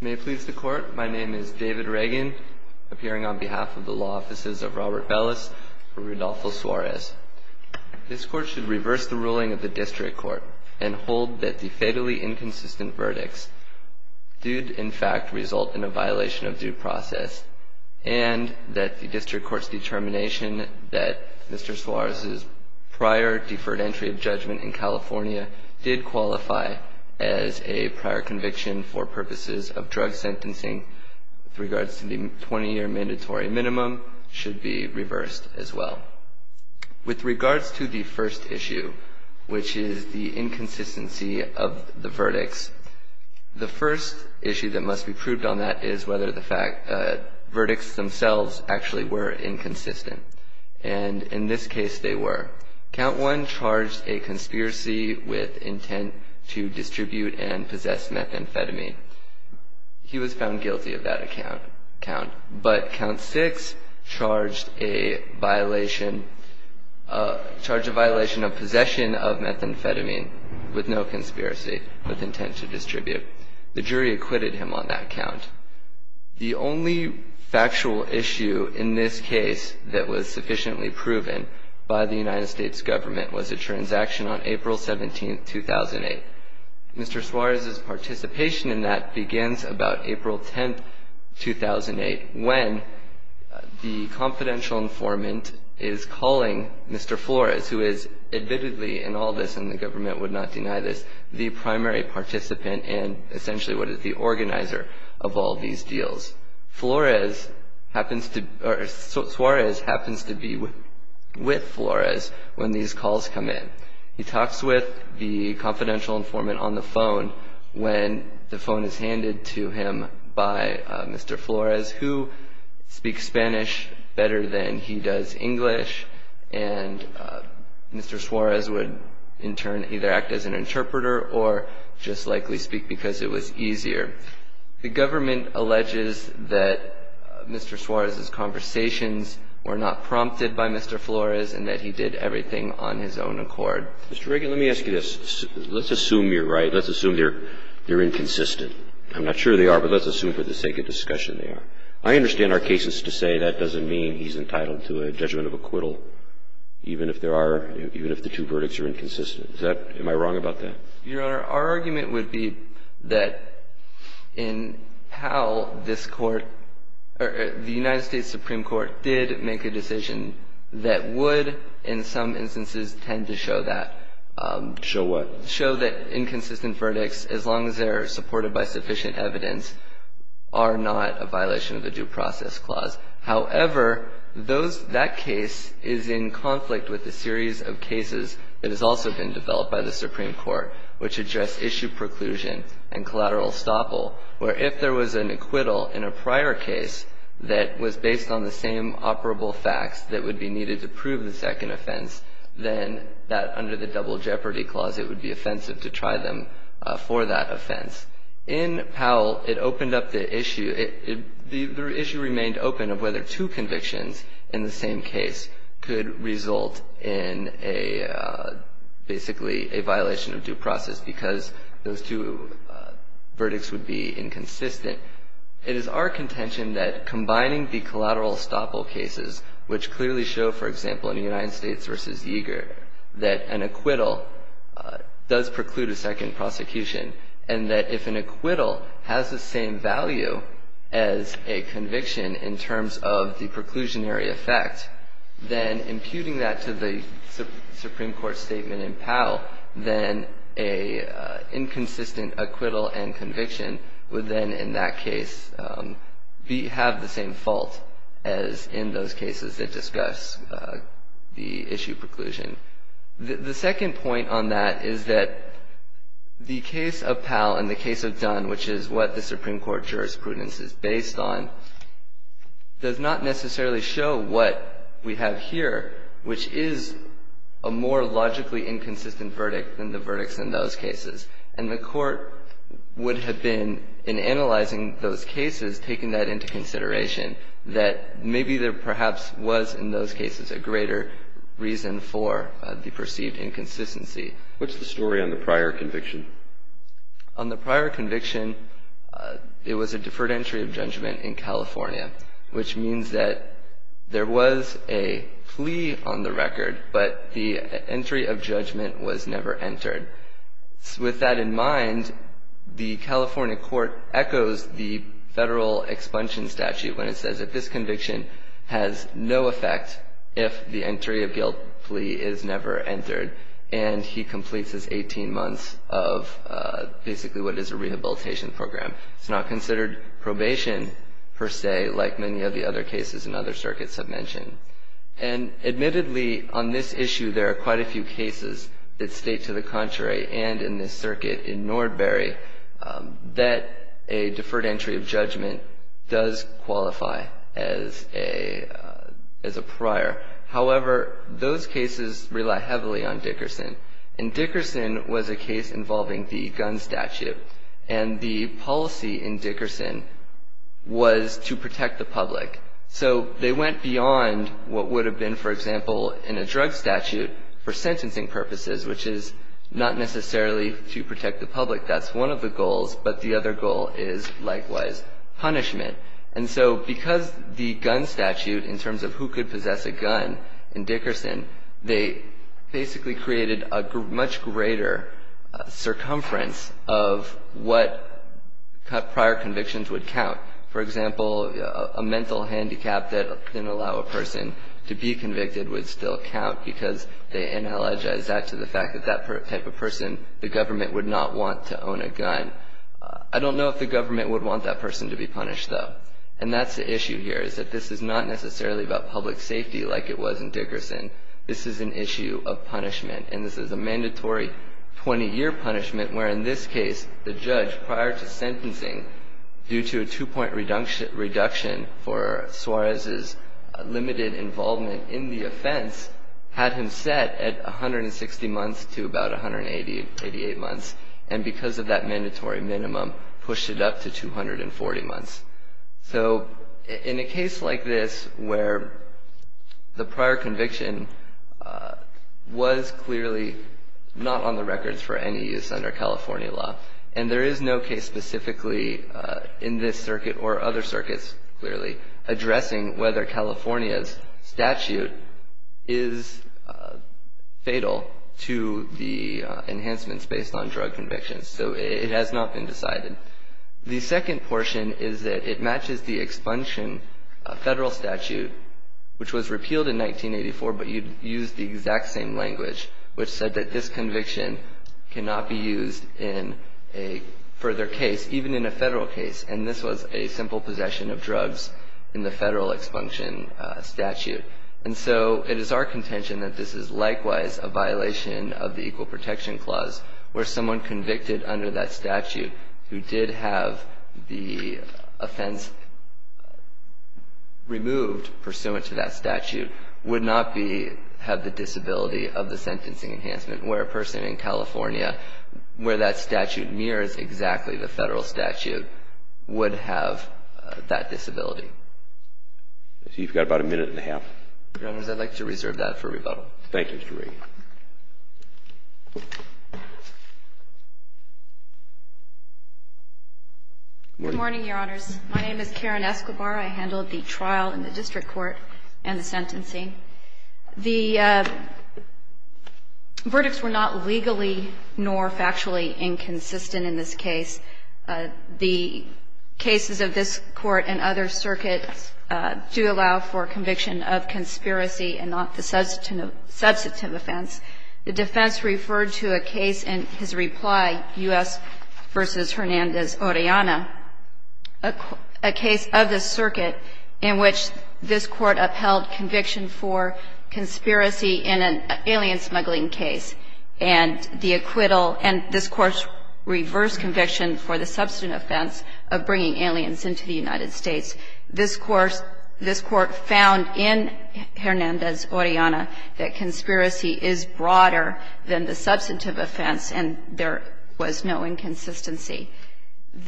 May it please the Court, my name is David Reagan, appearing on behalf of the Law Offices of Robert Bellis for Rodolfo Suarez. This Court should reverse the ruling of the District Court and hold that the fatally inconsistent verdicts did, in fact, result in a violation of due process, and that the District Court's determination that Mr. Suarez's prior deferred entry of judgment in California did qualify as a prior conviction for purposes of drug sentencing with regards to the 20-year mandatory minimum should be reversed as well. With regards to the first issue, which is the inconsistency of the verdicts, the first issue that must be proved on that is whether the verdicts themselves actually were inconsistent. And in this case, they were. Count 1 charged a conspiracy with intent to distribute and possess methamphetamine. He was found guilty of that count. But Count 6 charged a violation of possession of methamphetamine with no conspiracy, with intent to distribute. The jury acquitted him on that count. The only factual issue in this case that was sufficiently proven by the United States Government was a transaction on April 17, 2008. Mr. Suarez's participation in that begins about April 10, 2008, when the confidential informant is calling Mr. Flores, who is admittedly in all this, and the government would not deny this, the primary participant and essentially what is the organizer of all these deals. Suarez happens to be with Flores when these calls come in. He talks with the confidential informant on the phone when the phone is handed to him by Mr. Flores, who speaks Spanish better than he does English. And Mr. Suarez would in turn either act as an interpreter or just likely speak because it was easier. The government alleges that Mr. Suarez's conversations were not prompted by Mr. Flores and that he did everything on his own accord. Mr. Reagan, let me ask you this. Let's assume you're right. Let's assume they're inconsistent. I'm not sure they are, but let's assume for the sake of discussion they are. I understand our cases to say that doesn't mean he's entitled to a judgment of acquittal, even if there are – even if the two verdicts are inconsistent. Is that – am I wrong about that? Your Honor, our argument would be that in how this Court – the United States Supreme Court did make a decision that would in some instances tend to show that. Show what? Show that inconsistent verdicts, as long as they're supported by sufficient evidence, are not a violation of the Due Process Clause. However, those – that case is in conflict with a series of cases that has also been developed by the Supreme Court, which address issue preclusion and collateral estoppel, where if there was an acquittal in a prior case that was based on the same operable facts that would be needed to prove the second offense, then that under the statute would be offensive to try them for that offense. In Powell, it opened up the issue – the issue remained open of whether two convictions in the same case could result in a – basically a violation of due process because those two verdicts would be inconsistent. It is our contention that combining the collateral estoppel cases, which clearly show, for example, in the United States versus Yeager, that an acquittal does preclude a second prosecution and that if an acquittal has the same value as a conviction in terms of the preclusionary effect, then imputing that to the Supreme Court statement in Powell, then a inconsistent acquittal and conviction would then in that case have the same fault as in those cases that discuss the issue preclusion. The second point on that is that the case of Powell and the case of Dunn, which is what the Supreme Court jurisprudence is based on, does not necessarily show what we have here, which is a more logically inconsistent verdict than the verdicts in those cases, taking that into consideration, that maybe there perhaps was in those cases a greater reason for the perceived inconsistency. What's the story on the prior conviction? On the prior conviction, it was a deferred entry of judgment in California, which means that there was a plea on the record, but the entry of judgment was never And in the Federal Expunction Statute, when it says that this conviction has no effect if the entry of guilt plea is never entered, and he completes his 18 months of basically what is a rehabilitation program. It's not considered probation, per se, like many of the other cases in other circuits have mentioned. And admittedly, on this issue, there are quite a few cases that state to the contrary, and in this circuit in Nordbury, that a deferred entry of judgment does qualify as a prior. However, those cases rely heavily on Dickerson, and Dickerson was a case involving the gun statute, and the policy in Dickerson was to protect the public. So they went beyond what would have been, for example, in a drug statute for sentencing purposes, which is not necessarily to protect the public. That's one of the goals, but the other goal is, likewise, punishment. And so because the gun statute, in terms of who could possess a gun in Dickerson, they basically created a much greater circumference of what prior convictions would count. For example, a mental handicap that didn't allow a person to be convicted would still count because they analogize that to the fact that that type of person, the government would not want to own a gun. I don't know if the government would want that person to be punished, though. And that's the issue here, is that this is not necessarily about public safety like it was in Dickerson. This is an issue of punishment, and this is a mandatory 20-year punishment where, in this case, the judge, prior to sentencing, due to a two-point reduction for Suarez's limited involvement in the offense, had him set at 160 months to about 188 months, and because of that mandatory minimum, pushed it up to 240 months. So in a case like this where the prior conviction was clearly not on the records for any use under California law, and there is no case specifically in this circuit or other circuits, clearly, addressing whether California's statute is fatal to the enhancements based on drug convictions. So it has not been decided. The second portion is that it matches the expunction Federal statute, which was repealed in 1984, but you'd use the exact same language, which said that this conviction cannot be used in a further case, even in a Federal case, and this was a simple possession of drugs in the Federal expunction statute. And so it is our contention that this is likewise a violation of the Equal Protection Clause, where someone convicted under that statute who did have the offense removed pursuant to that statute would not have the disability of the sentencing enhancement, where a person in California, where that statute mirrors exactly the Federal statute, would have that disability. So you've got about a minute and a half. Your Honors, I'd like to reserve that for rebuttal. Thank you, Mr. Reed. Good morning, Your Honors. My name is Karen Escobar. I handled the trial in the district court and the sentencing. The verdicts were not legally nor factually inconsistent in this case. The cases of this Court and other circuits do allow for conviction of conspiracy and not the substantive offense. The defense referred to a case in his reply, U.S. v. Hernandez-Orellana, a case of the circuit in which this Court upheld conviction for conspiracy in an alien smuggling case. And the acquittal, and this Court's reverse conviction for the substantive offense of bringing aliens into the United States, this Court found in Hernandez-Orellana that conspiracy is broader than the substantive offense, and there was no inconsistency.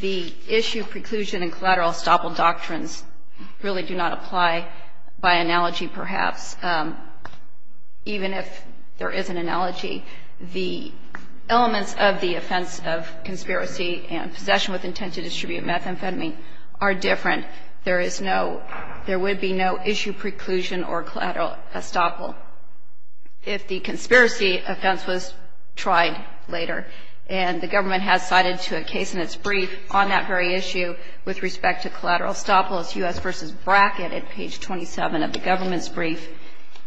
The issue, preclusion, and collateral estoppel doctrines really do not apply by analogy, perhaps. Even if there is an analogy, the elements of the offense of conspiracy and possession with intent to distribute methamphetamine are different. There would be no issue, preclusion, or collateral estoppel if the conspiracy offense was tried later. And the government has cited to a case in its brief on that very issue with respect to collateral estoppel. It's U.S. v. Brackett at page 27 of the government's brief,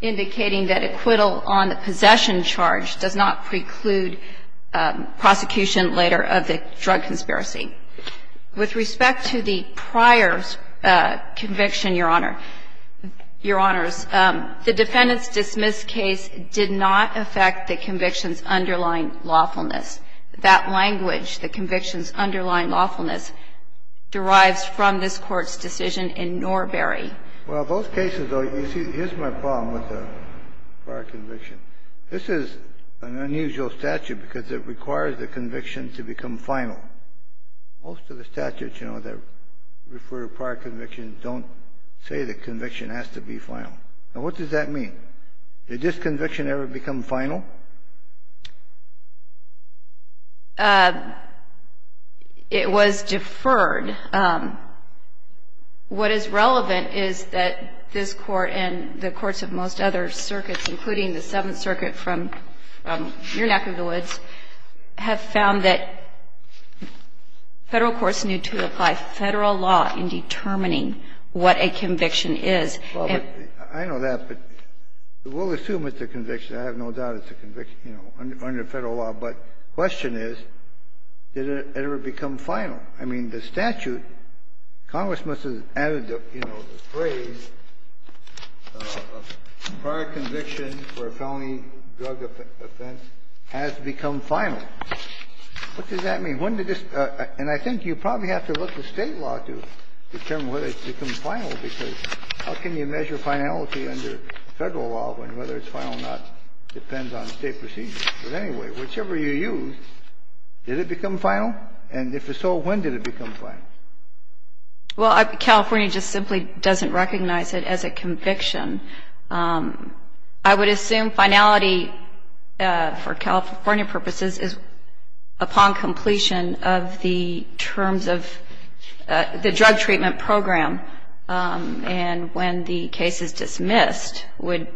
indicating that acquittal on the possession charge does not preclude prosecution later of the drug conspiracy. With respect to the prior conviction, Your Honor, Your Honors, the defendant's dismissed case did not affect the conviction's underlying lawfulness. That language, the conviction's underlying lawfulness, derives from this Court's decision in Norberry. Well, those cases, though, you see, here's my problem with the prior conviction. This is an unusual statute because it requires the conviction to become final. Most of the statutes, you know, that refer to prior convictions don't say the conviction has to be final. Now, what does that mean? Did this conviction ever become final? It was deferred. What is relevant is that this Court and the courts of most other circuits, including the Seventh Circuit from your neck of the woods, have found that Federal courts need to apply Federal law in determining what a conviction is. Well, but I know that, but we'll assume it's a conviction. I have no doubt it's a conviction, you know, under Federal law. But the question is, did it ever become final? I mean, the statute, Congress must have added, you know, the phrase, prior conviction for a felony drug offense has become final. What does that mean? When did this – and I think you probably have to look at State law to determine whether it's become final, because how can you measure finality under Federal law when whether it's final or not depends on State procedures. But anyway, whichever you use, did it become final? And if so, when did it become final? Well, California just simply doesn't recognize it as a conviction. I would assume finality for California purposes is upon completion of the terms of the drug treatment program, and when the case is dismissed would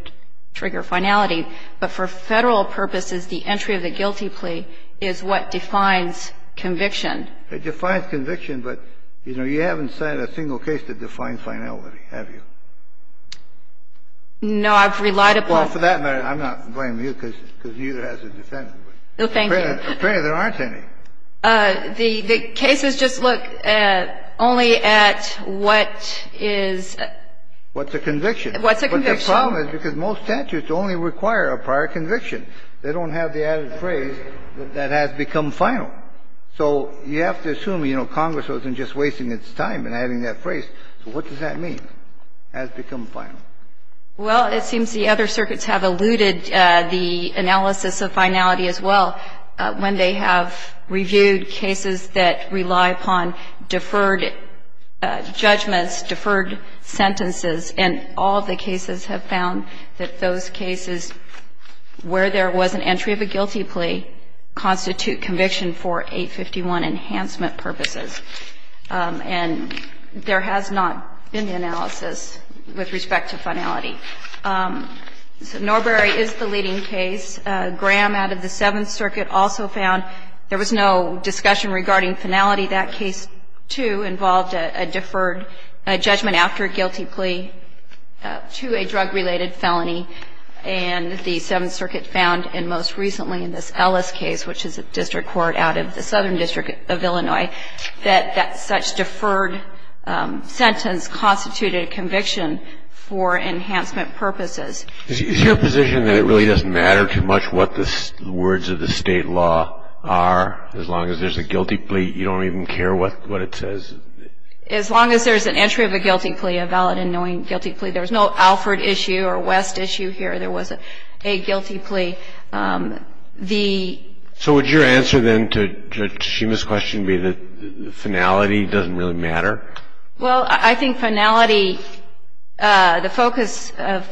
trigger finality. But for Federal purposes, the entry of the guilty plea is what defines conviction. It defines conviction, but, you know, you haven't set a single case to define finality, have you? No. I've relied upon – Well, for that matter, I'm not blaming you, because neither has the defendant. Well, thank you. Apparently, there aren't any. The cases just look only at what is – What's a conviction. What's a conviction. The problem is because most statutes only require a prior conviction. They don't have the added phrase that has become final. So you have to assume, you know, Congress wasn't just wasting its time in adding that phrase. So what does that mean, has become final? Well, it seems the other circuits have alluded the analysis of finality as well. When they have reviewed cases that rely upon deferred judgments, deferred sentences, and all the cases have found that those cases where there was an entry of a guilty plea constitute conviction for 851 enhancement purposes. And there has not been the analysis with respect to finality. Norbury is the leading case. Graham, out of the Seventh Circuit, also found there was no discussion regarding finality. That case, too, involved a deferred judgment after a guilty plea to a drug-related felony. And the Seventh Circuit found, and most recently in this Ellis case, which is a district court out of the Southern District of Illinois, that that such deferred sentence constituted a conviction for enhancement purposes. Is your position that it really doesn't matter too much what the words of the state law are, as long as there's a guilty plea? You don't even care what it says? As long as there's an entry of a guilty plea, a valid and knowing guilty plea. There was no Alford issue or West issue here. There was a guilty plea. So would your answer, then, to Shima's question be that finality doesn't really matter? Well, I think finality, the focus of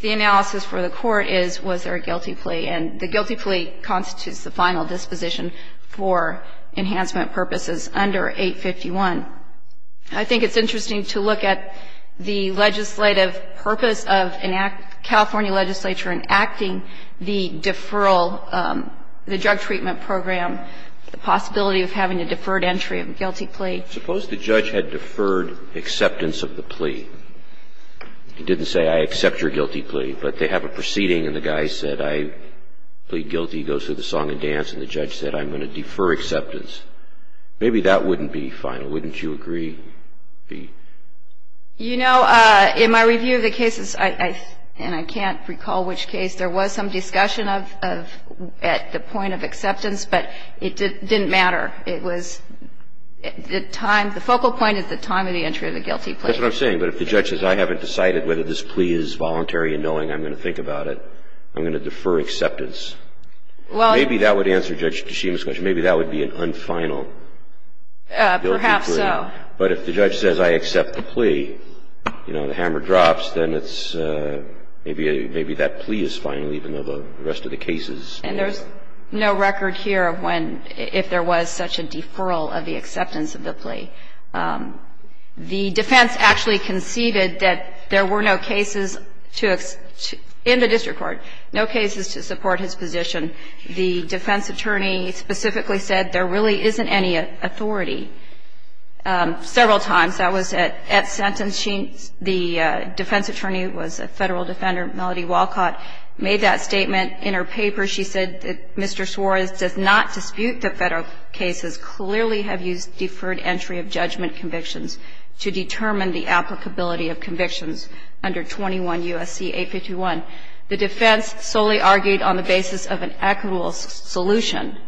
the analysis for the court is, was there a guilty plea? And the guilty plea constitutes the final disposition for enhancement purposes under 851. I think it's interesting to look at the legislative purpose of enacting, California legislature enacting the deferral, the drug treatment program, the possibility of having a deferred entry of a guilty plea. Suppose the judge had deferred acceptance of the plea. He didn't say, I accept your guilty plea. But they have a proceeding, and the guy said, I plead guilty, goes through the song and dance, and the judge said, I'm going to defer acceptance. Maybe that wouldn't be final. Wouldn't you agree? You know, in my review of the cases, and I can't recall which case, there was some discussion at the point of acceptance, but it didn't matter. It was the time, the focal point is the time of the entry of the guilty plea. That's what I'm saying. But if the judge says, I haven't decided whether this plea is voluntary in knowing I'm going to think about it, I'm going to defer acceptance, maybe that would answer Judge Kishima's question. Maybe that would be an unfinal guilty plea. Perhaps so. But if the judge says, I accept the plea, you know, the hammer drops, then it's maybe that plea is final, even though the rest of the case is. And there's no record here of when, if there was such a deferral of the acceptance of the plea. The defense actually conceded that there were no cases to, in the district court, no cases to support his position. The defense attorney specifically said there really isn't any authority. Several times, that was at sentence. The defense attorney was a Federal defender, Melody Walcott, made that statement in her paper. She said that Mr. Suarez does not dispute that Federal cases clearly have used deferred entry of judgment convictions to determine the applicability of convictions under 21 U.S.C. 851. The defense solely argued on the basis of an equitable solution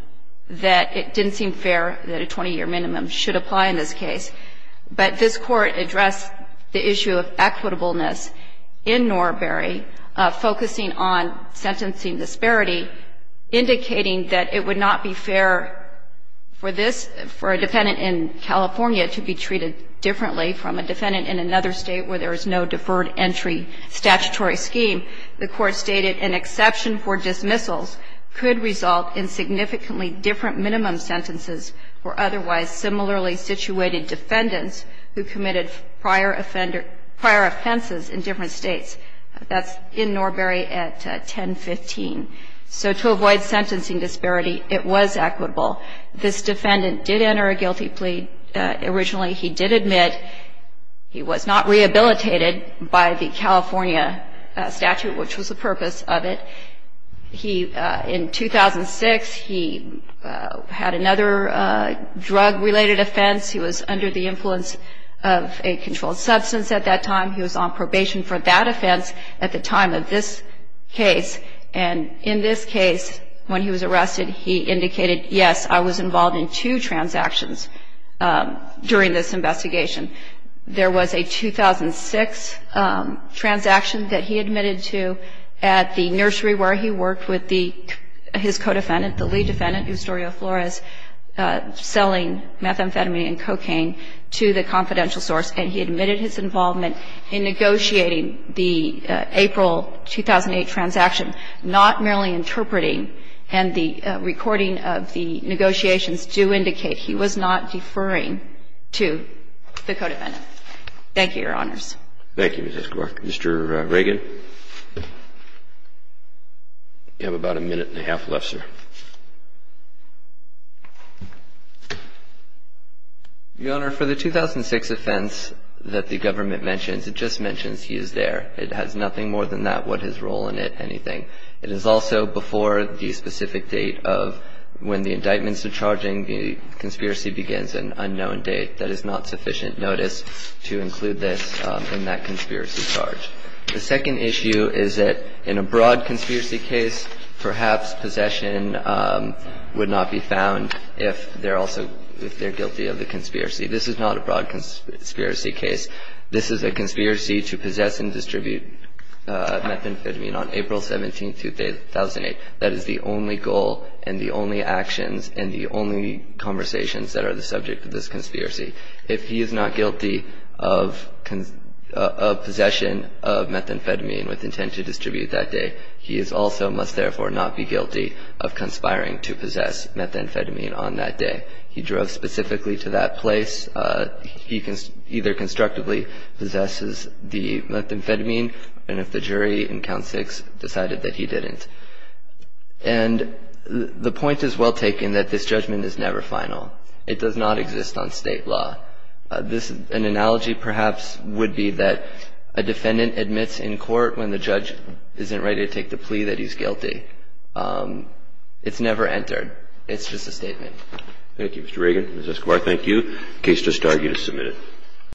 that it didn't seem fair that a 20-year minimum should apply in this case. But this Court addressed the issue of equitableness in Norbury, focusing on sentencing disparity, indicating that it would not be fair for this, for a defendant in California to be treated differently from a defendant in another State where there is no deferred entry statutory scheme. The Court stated an exception for dismissals could result in significantly different minimum sentences for otherwise similarly situated defendants who committed prior offenses in different States. That's in Norbury at 1015. So to avoid sentencing disparity, it was equitable. This defendant did enter a guilty plea originally. He did admit he was not rehabilitated by the California statute, which was the purpose of it. He, in 2006, he had another drug-related offense. He was under the influence of a controlled substance at that time. He was on probation for that offense at the time of this case. And in this case, when he was arrested, he indicated, yes, I was involved in two transactions during this investigation. There was a 2006 transaction that he admitted to at the nursery where he worked with his co-defendant, the lead defendant, Ustorio Flores, selling methamphetamine and cocaine to the confidential source. And he admitted his involvement in negotiating the April 2008 transaction, not merely interpreting. And the recording of the negotiations do indicate he was not deferring to the co-defendant. Thank you, Your Honors. Thank you, Mrs. Clark. Mr. Reagan. You have about a minute and a half left, sir. Your Honor, for the 2006 offense that the government mentions, it just mentions he is there. It has nothing more than that, what his role in it, anything. It is also before the specific date of when the indictments are charging, the conspiracy begins, an unknown date. That is not sufficient notice to include this in that conspiracy charge. The second issue is that in a broad conspiracy case, perhaps possession would not be found if they're also guilty of the conspiracy. This is not a broad conspiracy case. This is a conspiracy to possess and distribute methamphetamine on April 17, 2008. That is the only goal and the only actions and the only conversations that are the subject of this conspiracy. If he is not guilty of possession of methamphetamine with intent to distribute that day, he also must therefore not be guilty of conspiring to possess methamphetamine on that day. He drove specifically to that place. He either constructively possesses the methamphetamine and if the jury in Count 6 decided that he didn't. And the point is well taken that this judgment is never final. It does not exist on state law. An analogy perhaps would be that a defendant admits in court when the judge isn't ready to take the plea that he's guilty. It's never entered. It's just a statement. Thank you, Mr. Reagan. Ms. Escobar, thank you. The case does start. You may submit it.